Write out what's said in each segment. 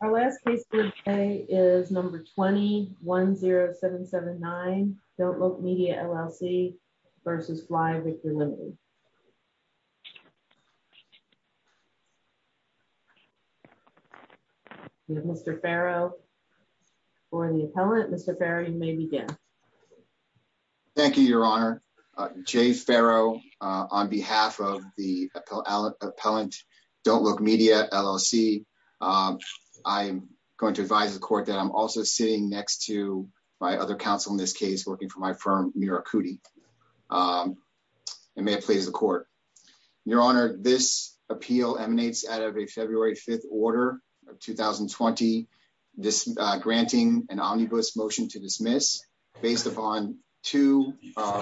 Our last case today is number 2010779 Don't Look Media LLC versus Fly Victor Limited. We have Mr. Farrow for the appellant. Mr. Farrow, you may begin. Thank you, Your Honor. J. Farrow, on behalf of the appellant Don't Look Media LLC, I'm going to advise the court that I'm also sitting next to my other counsel in this case, working for my firm, Mira Kuti. And may it please the court. Your Honor, this appeal emanates out of a February 5th order of 2020, granting an omnibus motion to dismiss based upon two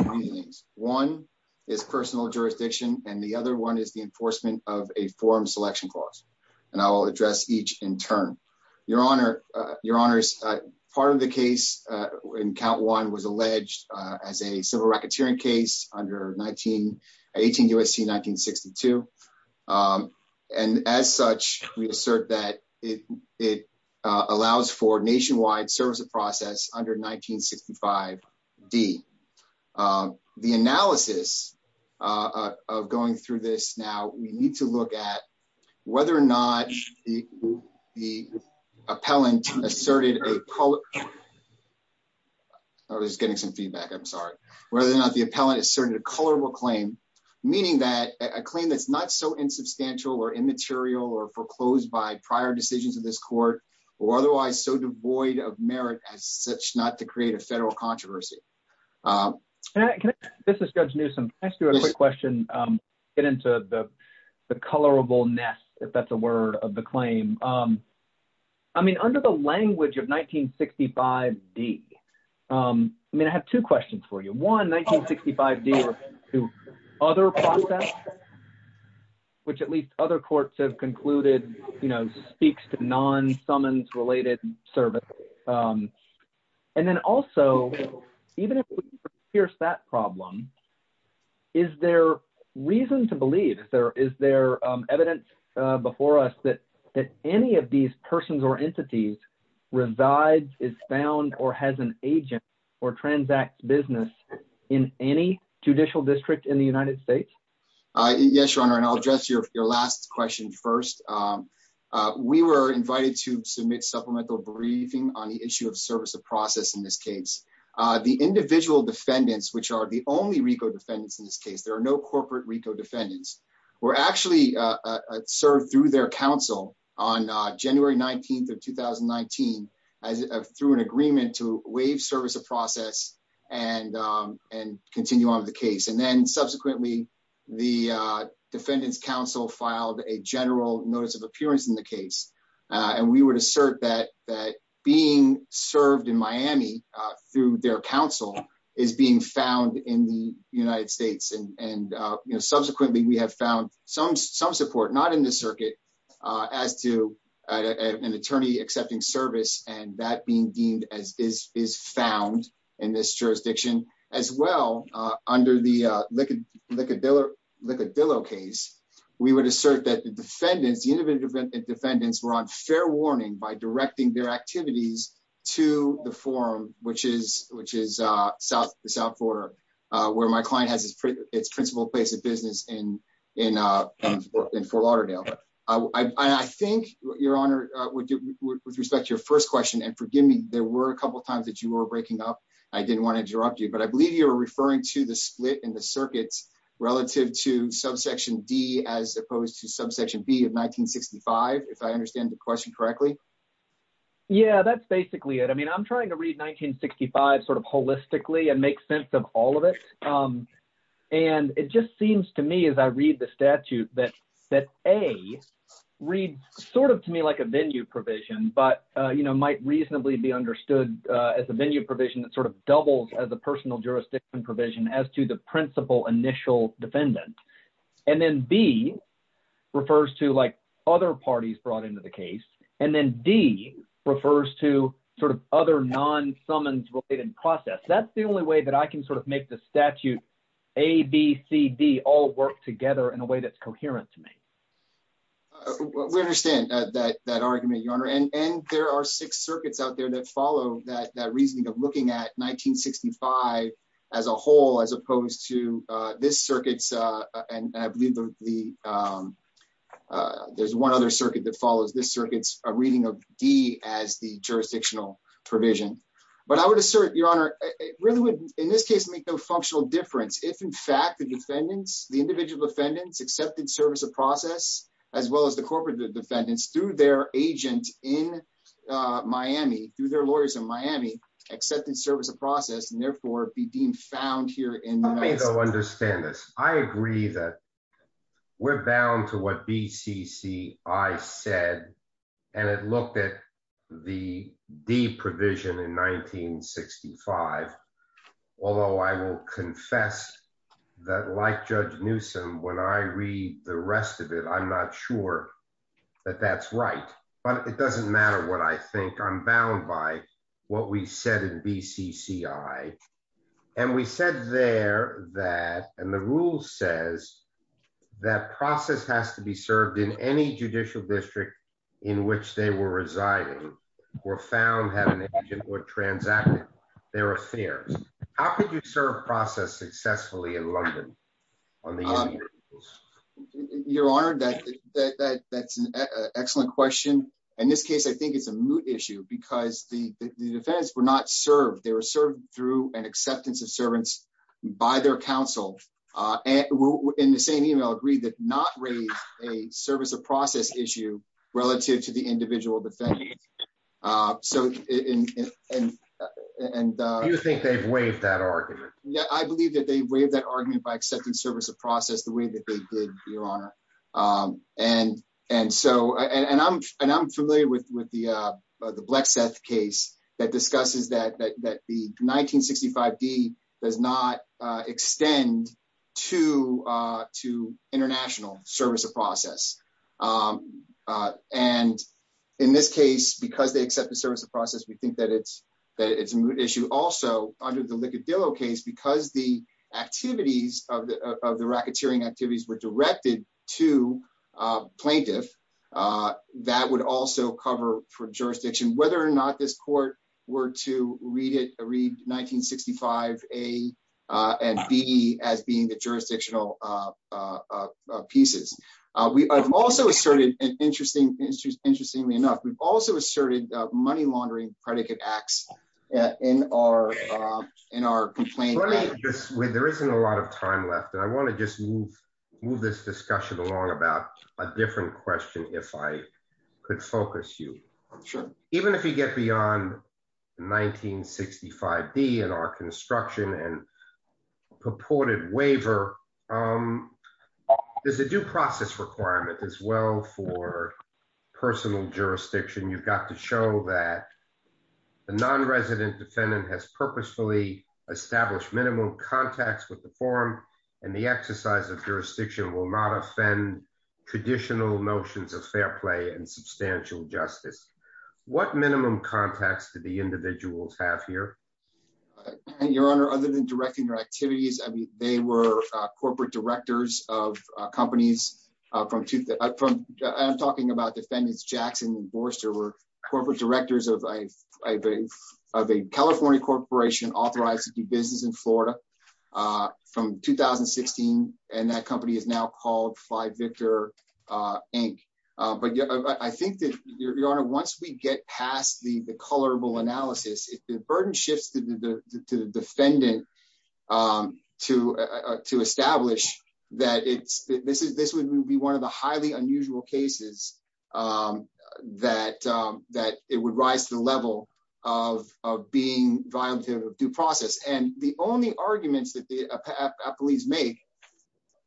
rulings. One is personal jurisdiction, and the other one is the enforcement of a forum selection clause. And I will address each in turn. Your Honor, part of the case in count one was alleged as a civil racketeering case under 18 U.S.C. 1962. And as such, we assert that it allows for nationwide service of process under 1965 D. The analysis of going through this now, we need to whether or not the appellant asserted a colorable claim, meaning that a claim that's not so insubstantial or immaterial or foreclosed by prior decisions of this court, or otherwise so devoid of merit as such not to create a federal controversy. This is Judge Newsome. I just do a quick question. Get into the colorable nest, if that's a word of the claim. I mean, under the language of 1965 D, I mean, I have two questions for you. One, 1965 D, other process, which at least other courts have concluded, you know, speaks to non-summons related service. And then also, even if we pierce that problem, is there reason to believe, is there evidence before us that any of these persons or entities resides, is found, or has an agent or transact business in any judicial district in the United States? Yes, your honor. And I'll address your last question first. We were invited to submit supplemental briefing on the issue of service of process in this case. The individual defendants, which are the only defendants in this case, there are no corporate RICO defendants, were actually served through their counsel on January 19th of 2019 through an agreement to waive service of process and continue on with the case. And then subsequently, the defendant's counsel filed a general notice of appearance in the case. And we would assert that being served in Miami through their counsel is being found in the United States. And, you know, subsequently we have found some support, not in the circuit, as to an attorney accepting service and that being deemed as is found in this jurisdiction. As well, under the Likudillo case, we would assert that the defendants, the individual defendants were on fair warning by directing their activities to the forum, which is the South border, where my client has its principal place of business in Fort Lauderdale. And I think, your honor, with respect to your first question, and forgive me, there were a couple of times that you were breaking up. I didn't want to interrupt you, but I believe you were referring to the split in the circuits relative to subsection D as opposed to subsection B of 1965, if I understand the question correctly. Yeah, that's basically it. I mean, I'm trying to read 1965 sort of holistically and make sense of all of it. And it just seems to me, as I read the statute, that A reads sort of to me like a venue provision, but, you know, might reasonably be understood as a venue provision that sort of doubles as a personal jurisdiction provision as to the principal initial defendant. And then B refers to like other parties brought into the case. And then D refers to sort of other non summons related process. That's the only way that I can sort of make the statute A, B, C, D all work together in a way that's coherent to me. We understand that argument, your honor. And there are six circuits out there that follow that reasoning of looking at 1965 as a whole, as opposed to this circuits. And I believe the there's one other circuit that follows this circuits, a reading of D as the jurisdictional provision. But I would assert your honor really would in this case, make no functional difference. If in fact, the defendants, the individual defendants accepted service of process, as well as the corporate defendants through their agent in Miami, through their lawyers in Miami, accepted service of process and therefore be deemed found here in. Understand this, I agree that we're bound to what BCCI said, and it looked at the D provision in 1965. Although I will confess that like Judge Newsome, when I read the rest of it, I'm not sure that that's right. But it doesn't matter what I think I'm bound by what we said in BCCI. And we said there that, and the rule says that process has to be served in any judicial district in which they were residing, or found having an agent or transacted their affairs. How could you serve process successfully in London? You're honored that that's an excellent question. In this case, I think it's a moot issue because the defense were not served, they were served through an acceptance of servants by their counsel. And in the same email agreed that not raise a service of process issue relative to the individual defendants. So, and, and, and you think they've waived that argument? Yeah, I believe that they waived that argument by accepting service of process the way that they did, Your Honor. And, and so and I'm, and I'm familiar with with the, the Black Seth case that discusses that, that the 1965 D does not extend to, to international service of process. And in this case, because they accept the service of process, we think that it's, that it's a moot issue also under the Likudillo case, because the activities of the racketeering activities were directed to plaintiff, that would also cover for jurisdiction, whether or not this were to read it, read 1965, A and B as being the jurisdictional pieces. We also asserted an interesting, interestingly enough, we've also asserted money laundering predicate acts in our, in our complaint. Let me just, there isn't a lot of time left. And I want to just move, move this discussion along about a different question, if I could focus you. Even if you get beyond 1965 D and our construction and purported waiver, there's a due process requirement as well for personal jurisdiction. You've got to show that the non-resident defendant has purposefully established minimum contacts with the forum and the exercise of jurisdiction will not offend traditional notions of fair play and substantial justice. What minimum contacts to the individuals have here? Your honor, other than directing your activities, I mean, they were corporate directors of companies from, I'm talking about defendants, Jackson and Boerster were corporate directors of a, California corporation authorized to do business in Florida from 2016. And that company is now called fly Victor Inc. But I think that your honor, once we get past the, the colorable analysis, if the burden shifts to the defendant to, to establish that it's, this is, this would be one of the highly unusual cases that, that it would rise to the level of, of being violent due process. And the only arguments that the police make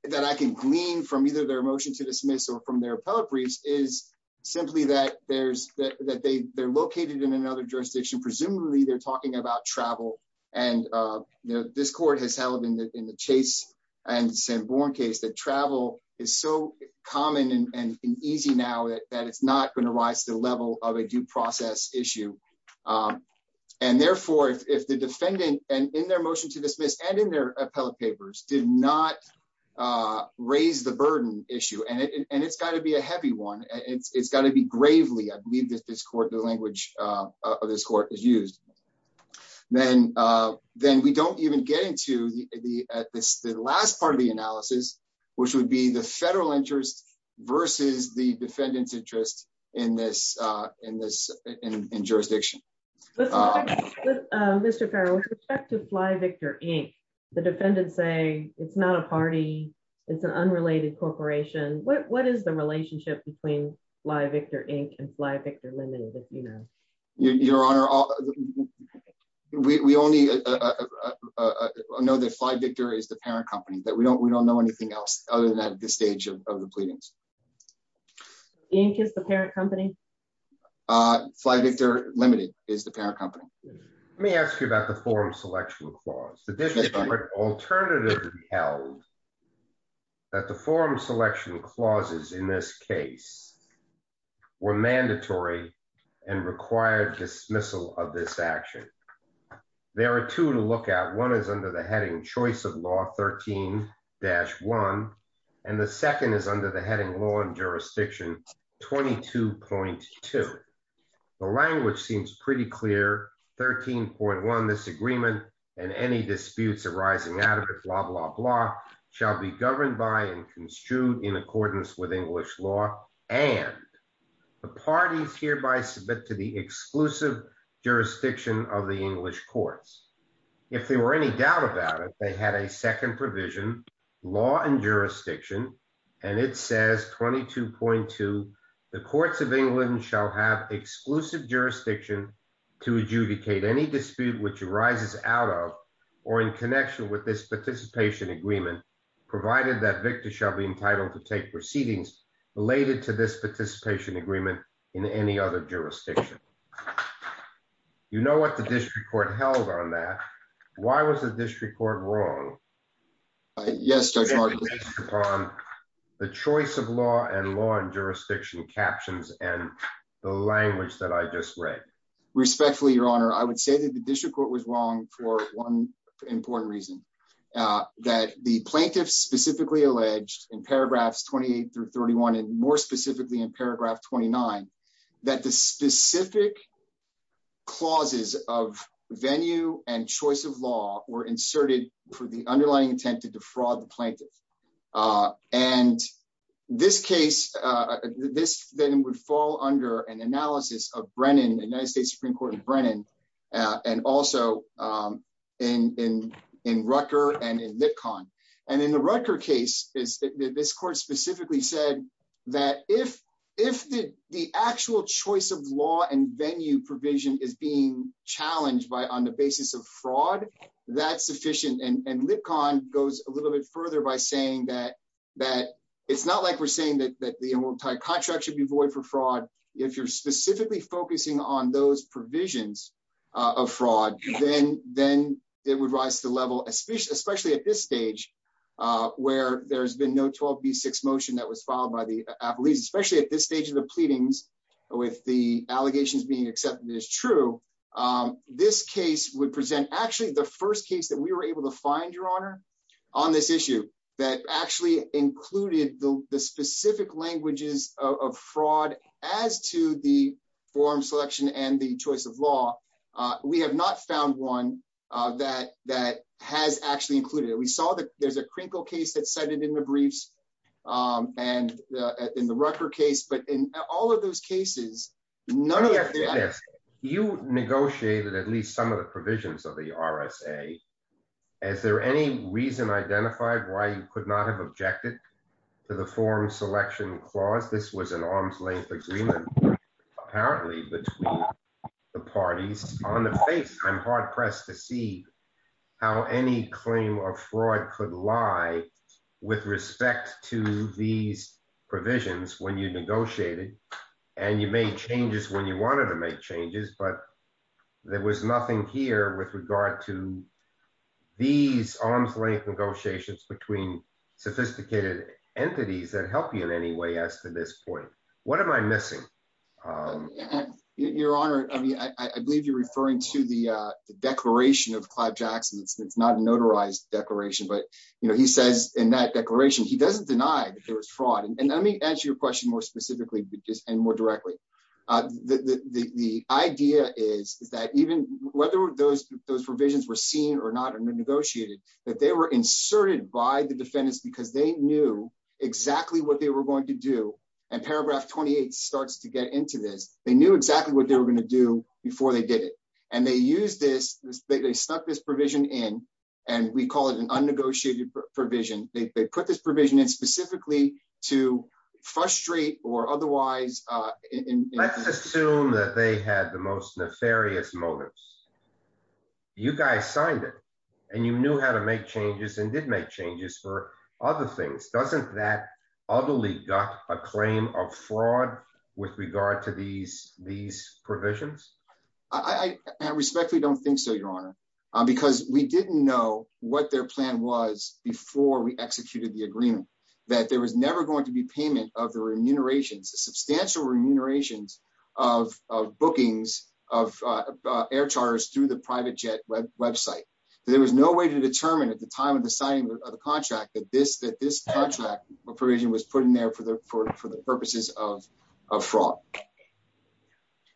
that I can glean from either their motion to dismiss or from their appellate briefs is simply that there's that, that they they're located in another jurisdiction. Presumably they're talking about travel and, you know, this court has held in the, Chase and Sanborn case that travel is so common and easy now that it's not going to rise to the level of a due process issue. And therefore, if the defendant and in their motion to dismiss and in their appellate papers did not raise the burden issue and it, and it's gotta be a heavy one, and it's gotta be gravely, I believe that this court, the language of this court is used. Then, then we don't even get into the, at this, the last part of the analysis, which would be the federal interest versus the defendant's interest in this, in this, in jurisdiction. Mr. Farrell, with respect to Fly Victor Inc, the defendants say it's not a party, it's an unrelated corporation. What, what is the relationship between Fly Victor Inc and Fly Victor? We, we only know that Fly Victor is the parent company that we don't, we don't know anything else other than at this stage of the pleadings. Inc is the parent company? Fly Victor Limited is the parent company. Let me ask you about the forum selection clause. Alternatively held, that the forum selection clauses in this case were mandatory and required dismissal of this action. There are two to look at. One is under the heading choice of law 13-1, and the second is under the heading law and jurisdiction 22.2. The language seems pretty clear. 13.1, this agreement and any disputes arising out of it, blah, blah, blah, shall be governed by and construed in accordance with English law, and the parties hereby submit to exclusive jurisdiction of the English courts. If there were any doubt about it, they had a second provision, law and jurisdiction, and it says 22.2, the courts of England shall have exclusive jurisdiction to adjudicate any dispute which arises out of or in connection with this participation agreement, provided that Victor shall be entitled to take proceedings related to this participation agreement in any other jurisdiction. You know what the district court held on that. Why was the district court wrong? Yes, Judge Martin. The choice of law and law and jurisdiction captions and the language that I just read. Respectfully, Your Honor, I would say that the district court was wrong for one important reason, that the plaintiffs specifically alleged in paragraphs 28 through 31, and more specifically in paragraph 29, that the specific clauses of venue and choice of law were inserted for the underlying intent to defraud the plaintiff, and this case, this then would fall under an analysis of Brennan, the United States Supreme Court in Brennan, and also in Rutger and in Lipkon, and in the Rutger case, this court specifically said that if the actual choice of law and venue provision is being challenged on the basis of fraud, that's sufficient, and Lipkon goes a little bit further by saying that it's not like we're saying that the entire contract should be void for fraud. If you're specifically focusing on those provisions of fraud, then it would rise to the level, especially at this stage, where there's been no 12b6 motion that was filed by the apologies, especially at this stage of the pleadings with the allegations being accepted as true. This case would present actually the first case that we were able to find, Your Honor, on this issue that actually included the specific languages of fraud as to the forum selection and the choice of law. We have not found one that has actually included it. We saw that there's a Krinkle case that's cited in the briefs and in the Rutger case, but in all of those cases, none of the... Let me ask you this. You negotiated at least some of the provisions of the RSA. Is there any reason identified why you could not have objected to the forum selection clause? This was an arm's-length agreement apparently between the parties on the face. I'm hard-pressed to see how any claim of fraud could lie with respect to these provisions when you negotiated and you made changes when you wanted to make changes, but there was nothing here with regard to these arm's-length negotiations between sophisticated entities that help you in any way as to this point. What am I missing? Your Honor, I believe you're referring to the declaration of Clive Jackson. It's not a notarized declaration, but he says in that declaration he doesn't deny that there was fraud. Let me ask you a question more specifically and more directly. The idea is that even whether those provisions were seen or not negotiated, that they were inserted by the defendants because they knew exactly what they were going to do, and paragraph 28 starts to get into this. They knew exactly what they were going to do before they did it, and they used this. They stuck this provision in, and we call it an in. Let's assume that they had the most nefarious motives. You guys signed it, and you knew how to make changes and did make changes for other things. Doesn't that utterly gut a claim of fraud with regard to these provisions? I respectfully don't think so, Your Honor, because we didn't know what their plan was before we executed the agreement, that there was never going to be payment of the remunerations, the substantial remunerations of bookings of air charters through the private jet website. There was no way to determine at the time of the signing of the contract that this contract provision was put in there for the purposes of fraud.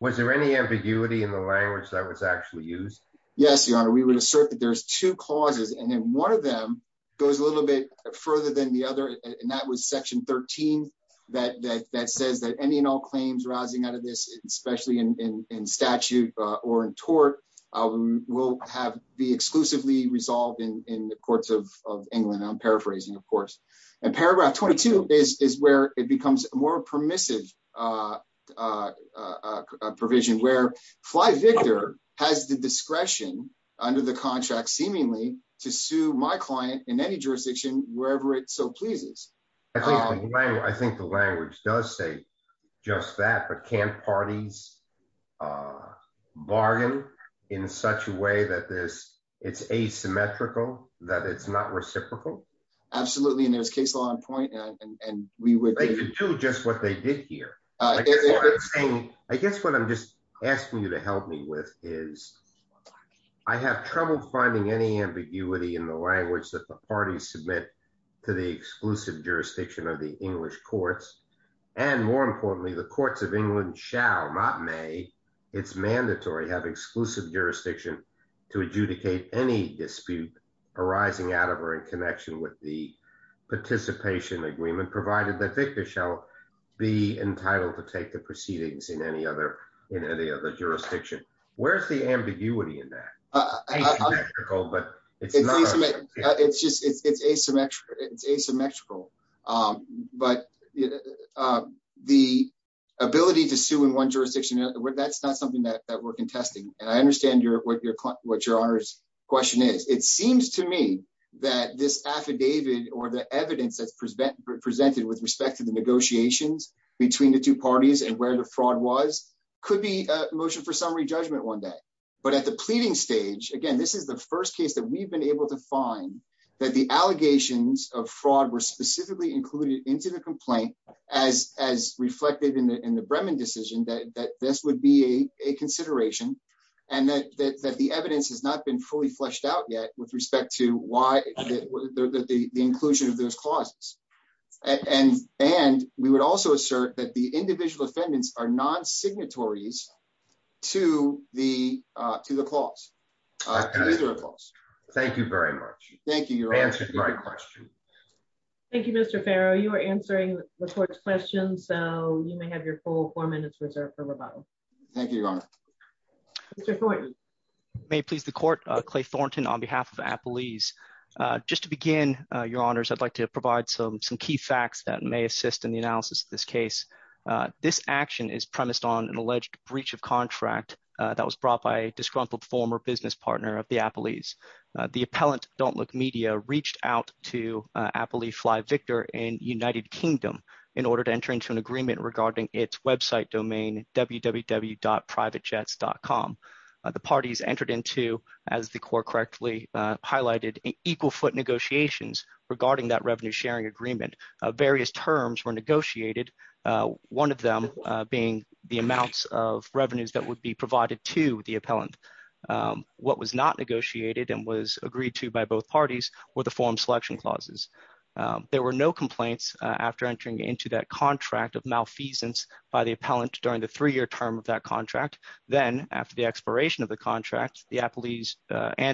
Was there any ambiguity in the language that was actually used? Yes, Your Honor. We would assert that there's two causes, and then one of them goes a little bit further than the other, and that was section 13 that says that any and all claims rising out of this, especially in statute or in tort, will be exclusively resolved in the courts of England. I'm paraphrasing, of course. Paragraph 22 is where it becomes a more permissive provision, where Fly Victor has the discretion under the contract, seemingly, to sue my client in any jurisdiction wherever it so pleases. I think the language does say just that, but can't parties bargain in such a way that it's asymmetrical, that it's not reciprocal? Absolutely, and there's case law on point, and we would... They could do just what they did here. I guess what I'm just asking you to help me with is I have trouble finding any ambiguity in the language that the parties submit to the exclusive jurisdiction of the English courts, and more importantly, the courts of England shall, not may, it's mandatory, have exclusive jurisdiction to adjudicate any dispute arising out of or in connection with the participation agreement, provided that Victor shall be entitled to take proceedings in any other jurisdiction. Where's the ambiguity in that? It's asymmetrical, but the ability to sue in one jurisdiction, that's not something that we're contesting, and I understand what your honor's question is. It seems to me that this affidavit or the evidence that's presented with respect to the negotiations between the two parties and where the fraud was could be a motion for summary judgment one day, but at the pleading stage, again, this is the first case that we've been able to find that the allegations of fraud were specifically included into the complaint as reflected in the Bremen decision, that this would be a consideration, and that the evidence has not been fully fleshed out yet with respect to the inclusion of those clauses, and we would also assert that the individual defendants are non-signatories to the clause, to either clause. Thank you very much. Thank you, your honor. Thank you, Mr. Farrow. You are answering the court's question, so you may have your full four minutes reserved for rebuttal. Thank you, your honor. Mr. Thornton. May it please the court, Clay Thornton on behalf of Appalese. Just to begin, your honors, I'd like to provide some key facts that may assist in the analysis of this case. This action is premised on an alleged breach of contract that was brought by a disgruntled former business partner of the Appalese. The appellant, Don't Look Media, reached out to Appalese Fly Victor in United Kingdom in order to enter into an agreement regarding its website domain www.privatejets.com. The parties entered into, as the court correctly highlighted, equal foot negotiations regarding that revenue sharing agreement. Various terms were negotiated, one of them being the amounts of revenues that would be provided to the appellant. What was not negotiated and was agreed to by both parties were the form selection clauses. There were no complaints after entering into that contract of malfeasance by the appellant during the three-year term of that contract. Then, after the expiration of the contract and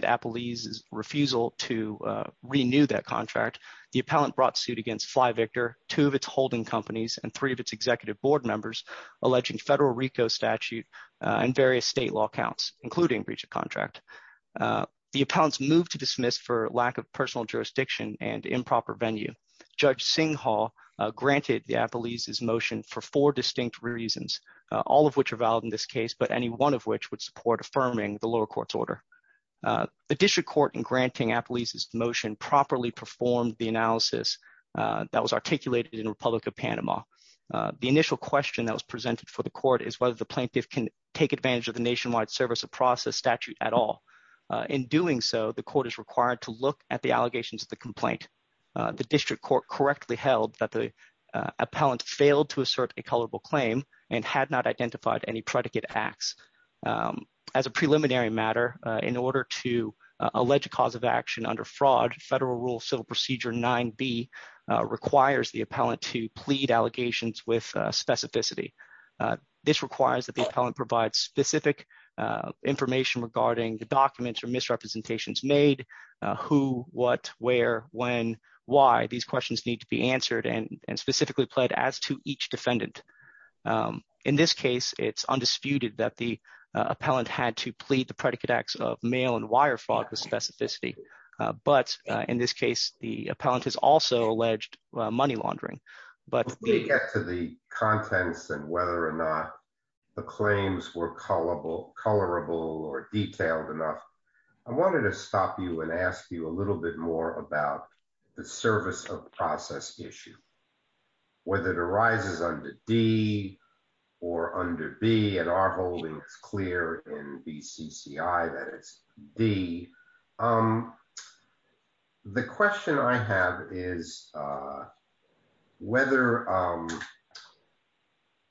Appalese's refusal to renew that contract, the appellant brought suit against Fly Victor, two of its holding companies, and three of its executive board members, alleging federal RICO statute and various state law counts, including breach of contract. The appellants moved to dismiss for lack of personal jurisdiction and improper venue. Judge Singhal granted the Appalese's motion for four distinct reasons, all of which are valid in this case, but any one of which would support affirming the lower court's order. The district court, in granting Appalese's motion, properly performed the analysis that was articulated in Republic of Panama. The initial question that was presented for the court is whether the plaintiff can take advantage of the nationwide service of process statute at all. In doing so, the court is required to look at the allegations of the complaint. The district court correctly held that the appellant failed to assert a colorable claim and had not identified any predicate acts. As a preliminary matter, in order to allege a cause of action under fraud, Federal Rule Civil Procedure 9B requires the appellant to plead allegations with specificity. This requires that the appellant provide specific information regarding the documents or misrepresentations made, who, what, where, when, why these questions need to be answered and specifically pled as to each defendant. In this case, it's undisputed that the appellant had to plead the predicate acts of mail and wire fraud with specificity. But in this case, the appellant has also alleged money laundering. But when we get to the contents and whether or not the claims were colorable or detailed enough, I wanted to stop you and ask you a little bit more about the service of process issue. Whether it arises under D or under B, and our holding is clear in BCCI that it's D. The question I have is whether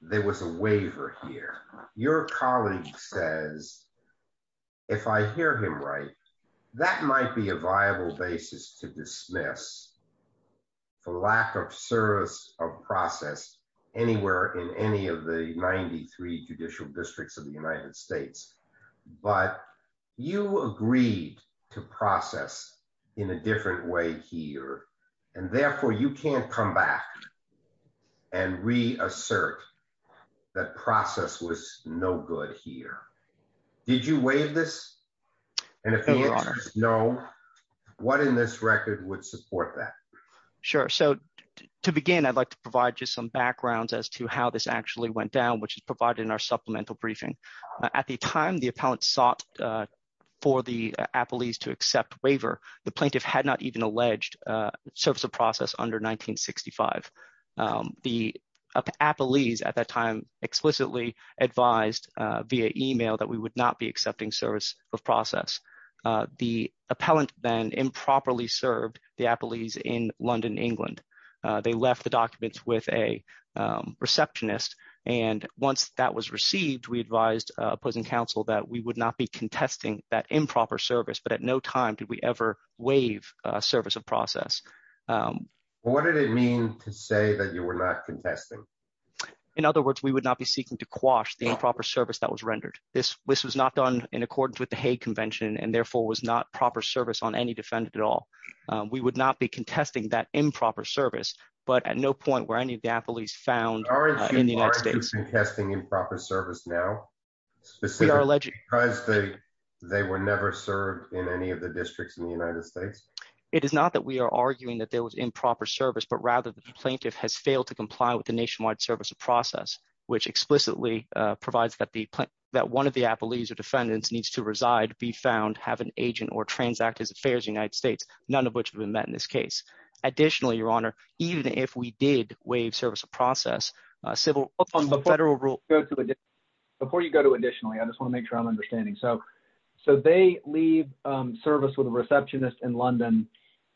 there was a waiver here. Your colleague says, if I hear him right, that might be a viable basis to dismiss for lack of service of process anywhere in any of the 93 judicial districts of the United States. But you agreed to process in a different way here. And therefore, you can't come back and reassert that process was no good here. Did you waive this? And if no, what in this record would support that? Sure. So to begin, I'd like to provide you some backgrounds as to how this actually went down, which is provided in our supplemental briefing. At the time, the appellant sought for the the appellees at that time explicitly advised via email that we would not be accepting service of process. The appellant then improperly served the appellees in London, England. They left the documents with a receptionist. And once that was received, we advised opposing counsel that we would not be contesting that improper service. But at no time did we ever service of process. What did it mean to say that you were not contesting? In other words, we would not be seeking to quash the improper service that was rendered. This was not done in accordance with the Hague Convention and therefore was not proper service on any defendant at all. We would not be contesting that improper service, but at no point where any of the appellees found in the United States. Aren't you contesting improper service now? Specifically, they were never served in any of the districts in the United States. It is not that we are arguing that there was improper service, but rather the plaintiff has failed to comply with the nationwide service of process, which explicitly provides that one of the appellees or defendants needs to reside, be found, have an agent or transact his affairs in the United States, none of which have been met in this case. Additionally, Your Honor, even if we did service of process, civil federal rule. Before you go to additionally, I just want to make sure I'm understanding. So they leave service with a receptionist in London.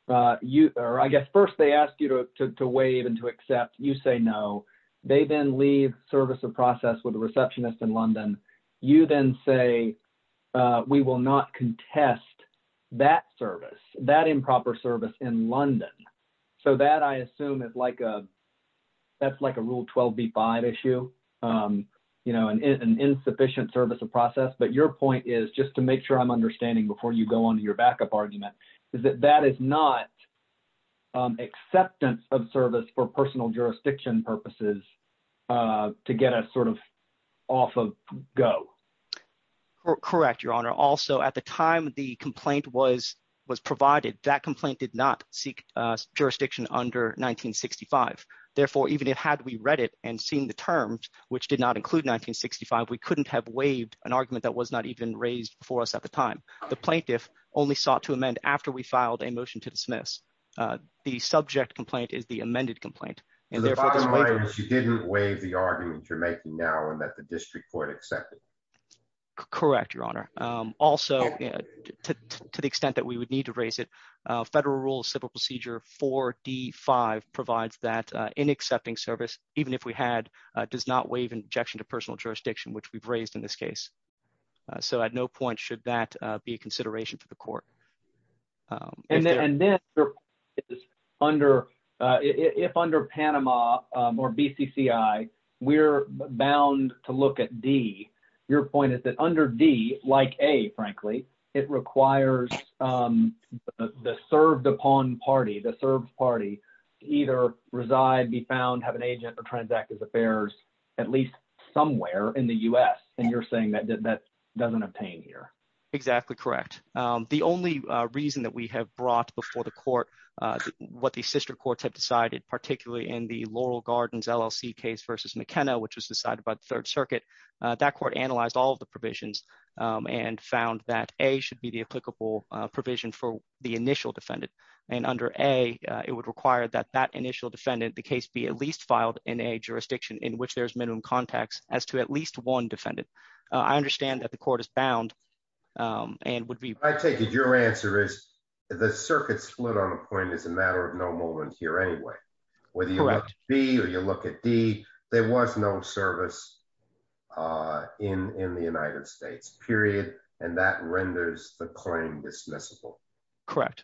I guess first they asked you to waive and to accept. You say no. They then leave service of process with a receptionist in London. You then say we will not contest that service, that improper service in London, so that I assume is like a. That's like a rule 12 B5 issue. You know, an insufficient service of process, but your point is just to make sure I'm understanding before you go on to your backup argument is that that is not. Acceptance of service for personal jurisdiction purposes to get us sort of off of go. Correct, Your Honor. Also, at the time, the complaint was was provided. That complaint did not seek jurisdiction under 1965. Therefore, even if had we read it and seen the terms which did not include 1965, we couldn't have waived an argument that was not even raised before us at the time. The plaintiff only sought to amend after we filed a motion to dismiss the subject complaint is the amended complaint. And therefore, you didn't waive the argument you're making now and that the district court accepted. Correct, Your Honor. Also, to the extent that we would need to raise it, federal rules, civil procedure 4D5 provides that in accepting service, even if we had does not waive injection to personal jurisdiction, which we've raised in this case. So at no point should that be a consideration for the court. And then there is under if under Panama or BCCI, we're bound to look at D. Your point is that under D, like A, frankly, it requires the served upon party, the served party, either reside, be found, have an agent or transact his affairs at least somewhere in the US. And you're saying that that doesn't obtain here. Exactly correct. The only reason that we have brought before the court what the sister courts have decided, particularly in the Laurel Gardens LLC case versus McKenna, which was decided by the Third Circuit, that court analyzed all of the provisions and found that a should be the applicable provision for the initial defendant. And under a, it would require that that initial defendant, the case be at least filed in a jurisdiction in which there's minimum context as to at least one defendant. I understand that the court is bound and would be. I take it. Your answer is the circuit split on a point is a matter of no moment here anyway. Whether you be or you look at D, there was no service in the United States, period. And that renders the claim dismissible. Correct.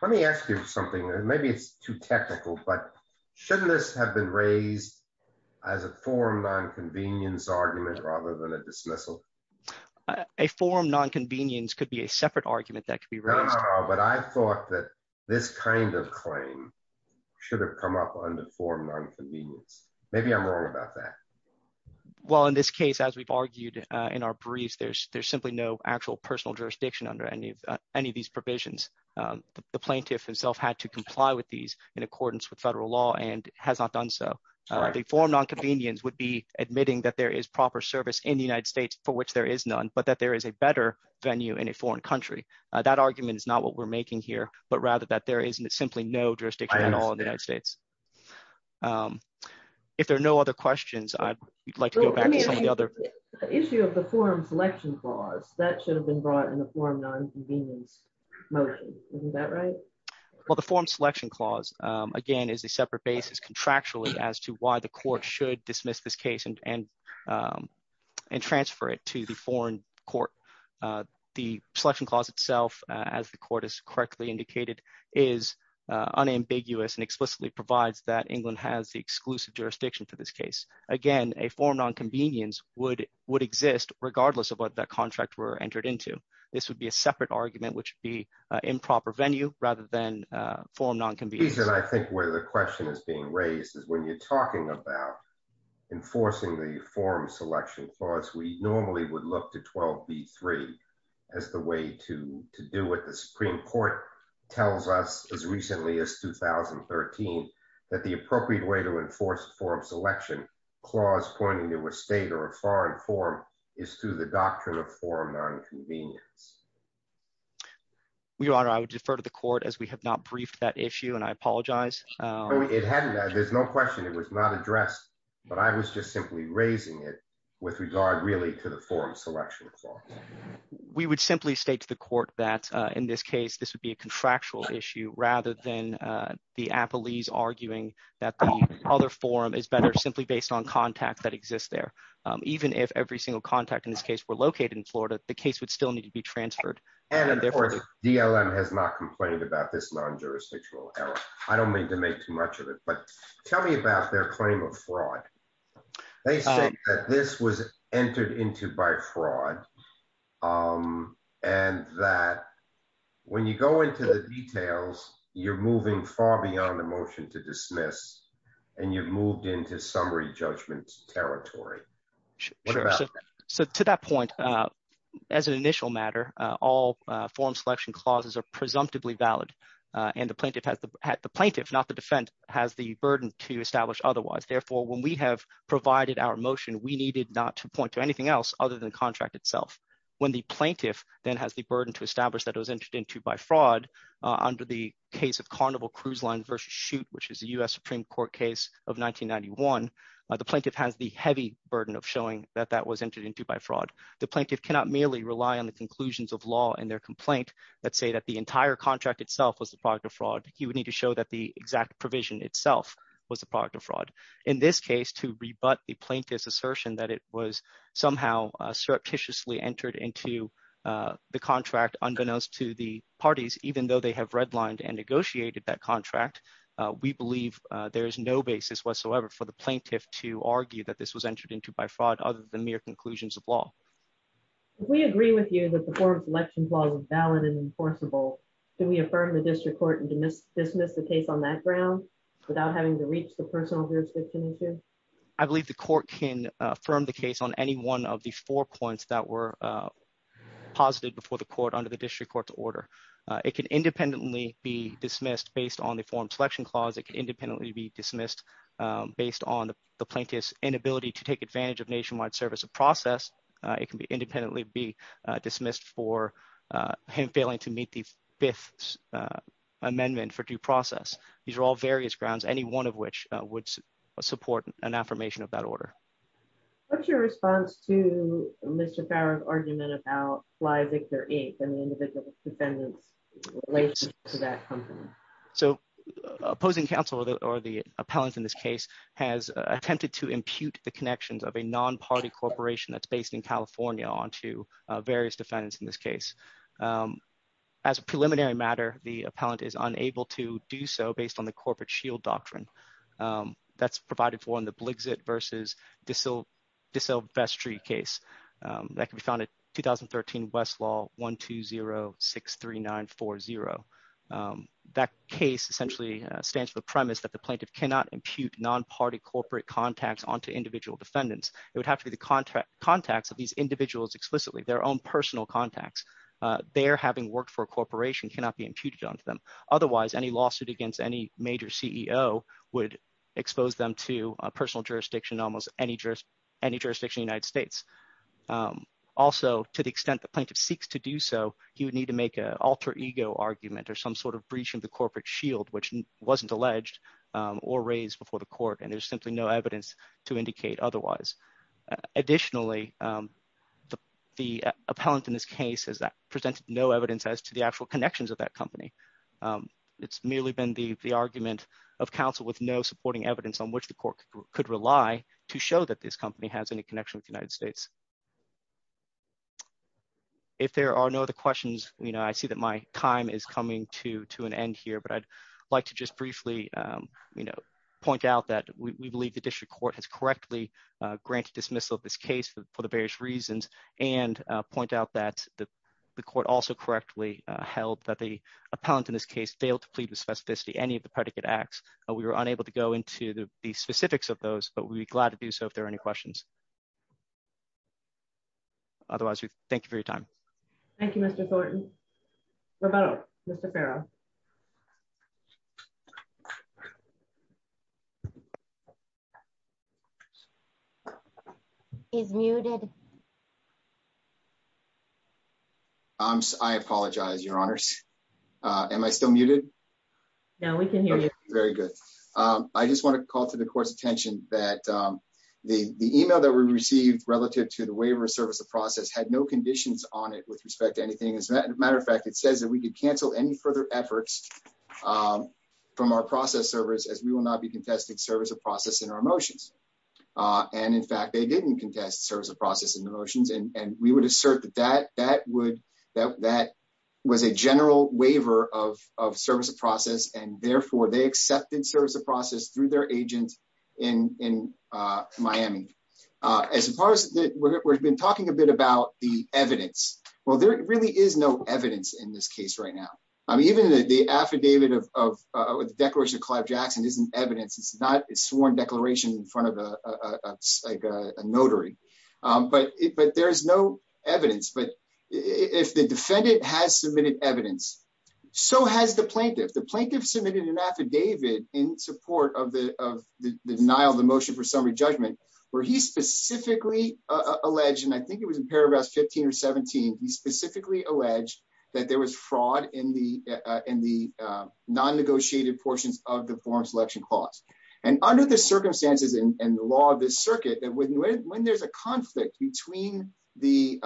Let me ask you something. Maybe it's too technical, but shouldn't this have been raised as a forum nonconvenience argument rather than a dismissal? A forum nonconvenience could be a separate argument that could be. But I thought that this kind of claim should have come up on the forum. Maybe I'm wrong about that. Well, in this case, as we've argued in our briefs, there's there's simply no actual personal jurisdiction under any of any of these provisions. The plaintiff himself had to comply with these in accordance with federal law and has not done so before. Nonconvenience would be for which there is none, but that there is a better venue in a foreign country. That argument is not what we're making here, but rather that there is simply no jurisdiction at all in the United States. If there are no other questions, I'd like to go back to some of the other issue of the forum selection clause that should have been brought in the forum nonconvenience motion. Is that right? Well, the forum selection clause, again, is a separate basis contractually as to why the court should dismiss this case and and and transfer it to the foreign court. The selection clause itself, as the court has correctly indicated, is unambiguous and explicitly provides that England has the exclusive jurisdiction for this case. Again, a forum nonconvenience would would exist regardless of what that contract were entered into. This would be a separate argument, which be improper venue rather than forum nonconvenience. I think where the question is being raised is when you're talking about enforcing the forum selection clause, we normally would look to 12B3 as the way to to do what the Supreme Court tells us as recently as 2013, that the appropriate way to enforce forum selection clause pointing to a state or a foreign forum is through the doctrine of forum nonconvenience. Your Honor, I would defer to the court as we have not briefed that issue and apologize. There's no question it was not addressed, but I was just simply raising it with regard really to the forum selection clause. We would simply state to the court that in this case, this would be a contractual issue rather than the appellees arguing that the other forum is better simply based on contact that exists there. Even if every single contact in this case were located in Florida, the case would still need to be transferred. And of course, DLM has not complained about this non-jurisdictional error. I don't mean to make too much of it, but tell me about their claim of fraud. They say that this was entered into by fraud and that when you go into the details, you're moving far beyond the motion to dismiss and you've moved into summary judgment territory. Sure. So to that point, as an initial matter, all forum selection clauses are presumptively valid and the plaintiff, not the defense, has the burden to establish otherwise. Therefore, when we have provided our motion, we needed not to point to anything else other than the contract itself. When the plaintiff then has the burden to establish that it was entered into by fraud under the case of Carnival Cruise Line versus Chute, which is a U.S. Supreme Court case of 1991, the plaintiff has the heavy burden of showing that that was entered into by fraud. The plaintiff cannot merely rely on the conclusions of law in their complaint that say that the entire contract itself was the product of fraud. He would need to show that the exact provision itself was the product of fraud. In this case, to rebut the plaintiff's assertion that it was somehow surreptitiously entered into the contract unbeknownst to the parties, even though they have redlined and negotiated that contract, we believe there is no basis whatsoever for the plaintiff to argue that this was entered into by fraud other than mere conclusions of law. If we agree with you that the forum selection clause is valid and enforceable, can we affirm the district court and dismiss the case on that ground without having to reach the personal jurisdiction issue? I believe the court can affirm the case on any one of the four points that were posited before the court under the district court's order. It can independently be dismissed based on the forum selection clause. It can independently be dismissed based on the plaintiff's inability to take advantage of nationwide service of process. It can independently be dismissed for him failing to meet the fifth amendment for due process. These are all various grounds, any one of which would support an affirmation of that order. What's your response to Mr. Farrar's argument about Flyvictor Inc. and the individual defendants related to that company? So opposing counsel or the appellant in this case has attempted to impute the connections of a non-party corporation that's based in California onto various defendants in this case. As a preliminary matter, the appellant is unable to do so based on the corporate shield doctrine that's provided for in the Bligzit versus De Silvestri case that can be found at 2013 Westlaw 12063940. That case essentially stands for the premise that the plaintiff cannot impute non-party corporate contacts onto individual defendants. It would have to be the contacts of these individuals explicitly, their own personal contacts. Their having worked for a corporation cannot be imputed onto them. Otherwise, any lawsuit against any major CEO would expose them to personal jurisdiction, almost any jurisdiction in the United States. Also, to the extent the plaintiff seeks to do so, he would need to make an alter ego argument or some sort of breach of the corporate shield, which wasn't alleged or raised before the court. And there's simply no evidence to indicate otherwise. Additionally, the appellant in this case has presented no evidence as to the actual connections of that company. It's merely been the argument of counsel with no supporting evidence on which the court could rely to show that this company has any connection with the United States. If there are no other questions, I see that my time is coming to an end here, but I'd like to just briefly point out that we believe the district court has correctly granted dismissal of this case for the various reasons and point out that the court also correctly held that the appellant in this case failed to plead with specificity any of the predicate acts. We were unable to go into the specifics of those, but we'd be glad to do so if there are any questions. Otherwise, we thank you for your time. Thank you, Mr. Thornton. What about Mr. Farrow? He's muted. I apologize, Your Honors. Am I still muted? No, we can hear you. Very good. I just want to call to the court's attention that the email that we received relative to the waiver of service of process had no conditions on it with respect to anything. As a matter of fact, it says that we could cancel any further efforts from our process servers as we will not be contesting service of process in our motions. In fact, they didn't contest service of process in the motions, and we would assert that that was a general waiver of service of process, and therefore, they accepted service of process through their agent in Miami. As far as we've been talking a bit about the evidence, well, there really is no evidence in this case right now. I mean, even the affidavit of the Declaration of Clive Jackson isn't evidence. It's not a sworn declaration in front of a notary, but there is no evidence. But if the defendant has submitted evidence, so has the plaintiff. The plaintiff submitted an affidavit in support of the denial of the motion for summary judgment where he specifically alleged, and I think it was in paragraphs 15 or 17, he specifically alleged that there was fraud in the non-negotiated portions of the foreign selection clause. And under the circumstances and the law of this circuit, when there's a conflict between the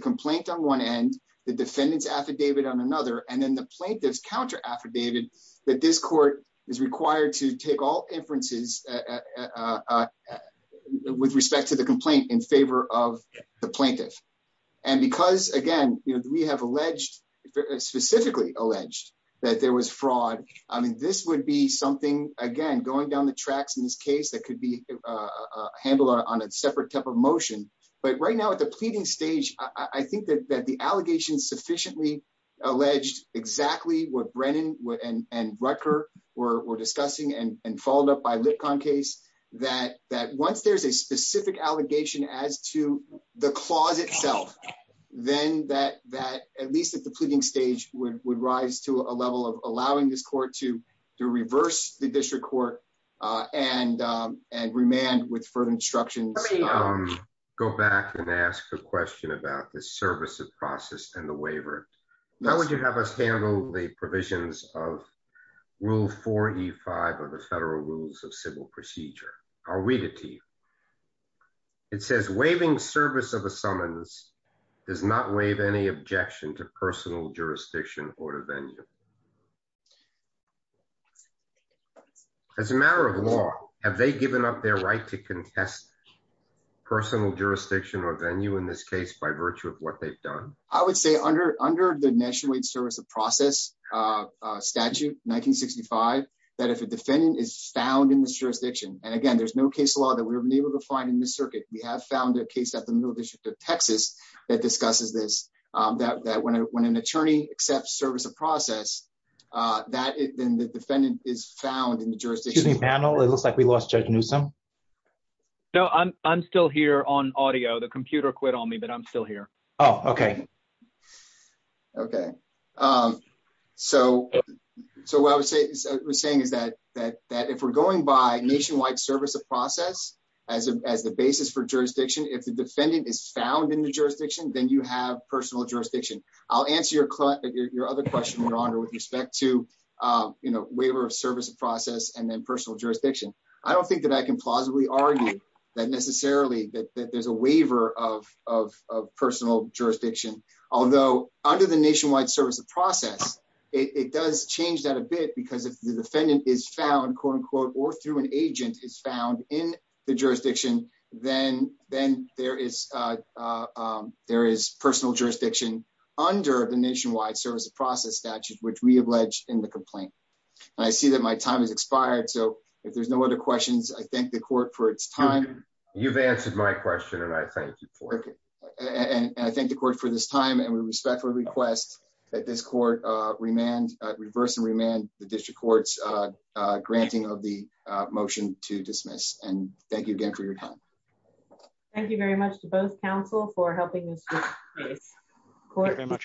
complaint on one end, the defendant's affidavit on another, and then the plaintiff's counter-affidavit, that this court is required to take all inferences with respect to the complaint in favor of the plaintiff. And because, again, we have specifically alleged that there was fraud, I mean, this would be something, again, going down the tracks in this case that could be handled on a separate type of motion. But right now at the what Brennan and Rutger were discussing and followed up by Litcon case, that once there's a specific allegation as to the clause itself, then that, at least at the pleading stage, would rise to a level of allowing this court to reverse the district court and remand with further instructions. Let me go back and ask a question about the service of process and the provisions of Rule 4E5 of the Federal Rules of Civil Procedure. I'll read it to you. It says, waiving service of a summons does not waive any objection to personal jurisdiction or to venue. As a matter of law, have they given up their right to contest personal jurisdiction or venue in this case by virtue of what they've done? I would say under the National Service of Process Statute 1965, that if a defendant is found in this jurisdiction, and again, there's no case law that we've been able to find in this circuit. We have found a case at the Middle District of Texas that discusses this, that when an attorney accepts service of process, then the defendant is found in the jurisdiction. Excuse me, panel. It looks like we lost Judge Newsome. No, I'm still here on audio. The computer quit on me, but I'm still here. Oh, okay. Okay. So what I was saying is that if we're going by nationwide service of process as the basis for jurisdiction, if the defendant is found in the jurisdiction, then you have personal jurisdiction. I'll answer your other question, Your Honor, with respect to waiver of service of process and then personal jurisdiction. I don't think that I can plausibly argue that necessarily that there's a waiver of personal jurisdiction. Although under the nationwide service of process, it does change that a bit because if the defendant is found, quote unquote, or through an agent is found in the jurisdiction, then there is personal jurisdiction under the nationwide service of process statute, which we have alleged in the complaint. I see that my time has expired, so if there's no other questions, I thank the court for its time. You've answered my question, and I thank you for it. And I thank the court for this time, and we respectfully request that this court reverse and remand the district court's granting of the motion to dismiss. And thank you again for your time. Thank you very much to both counsel for helping us. Thank you very much, Your Honor.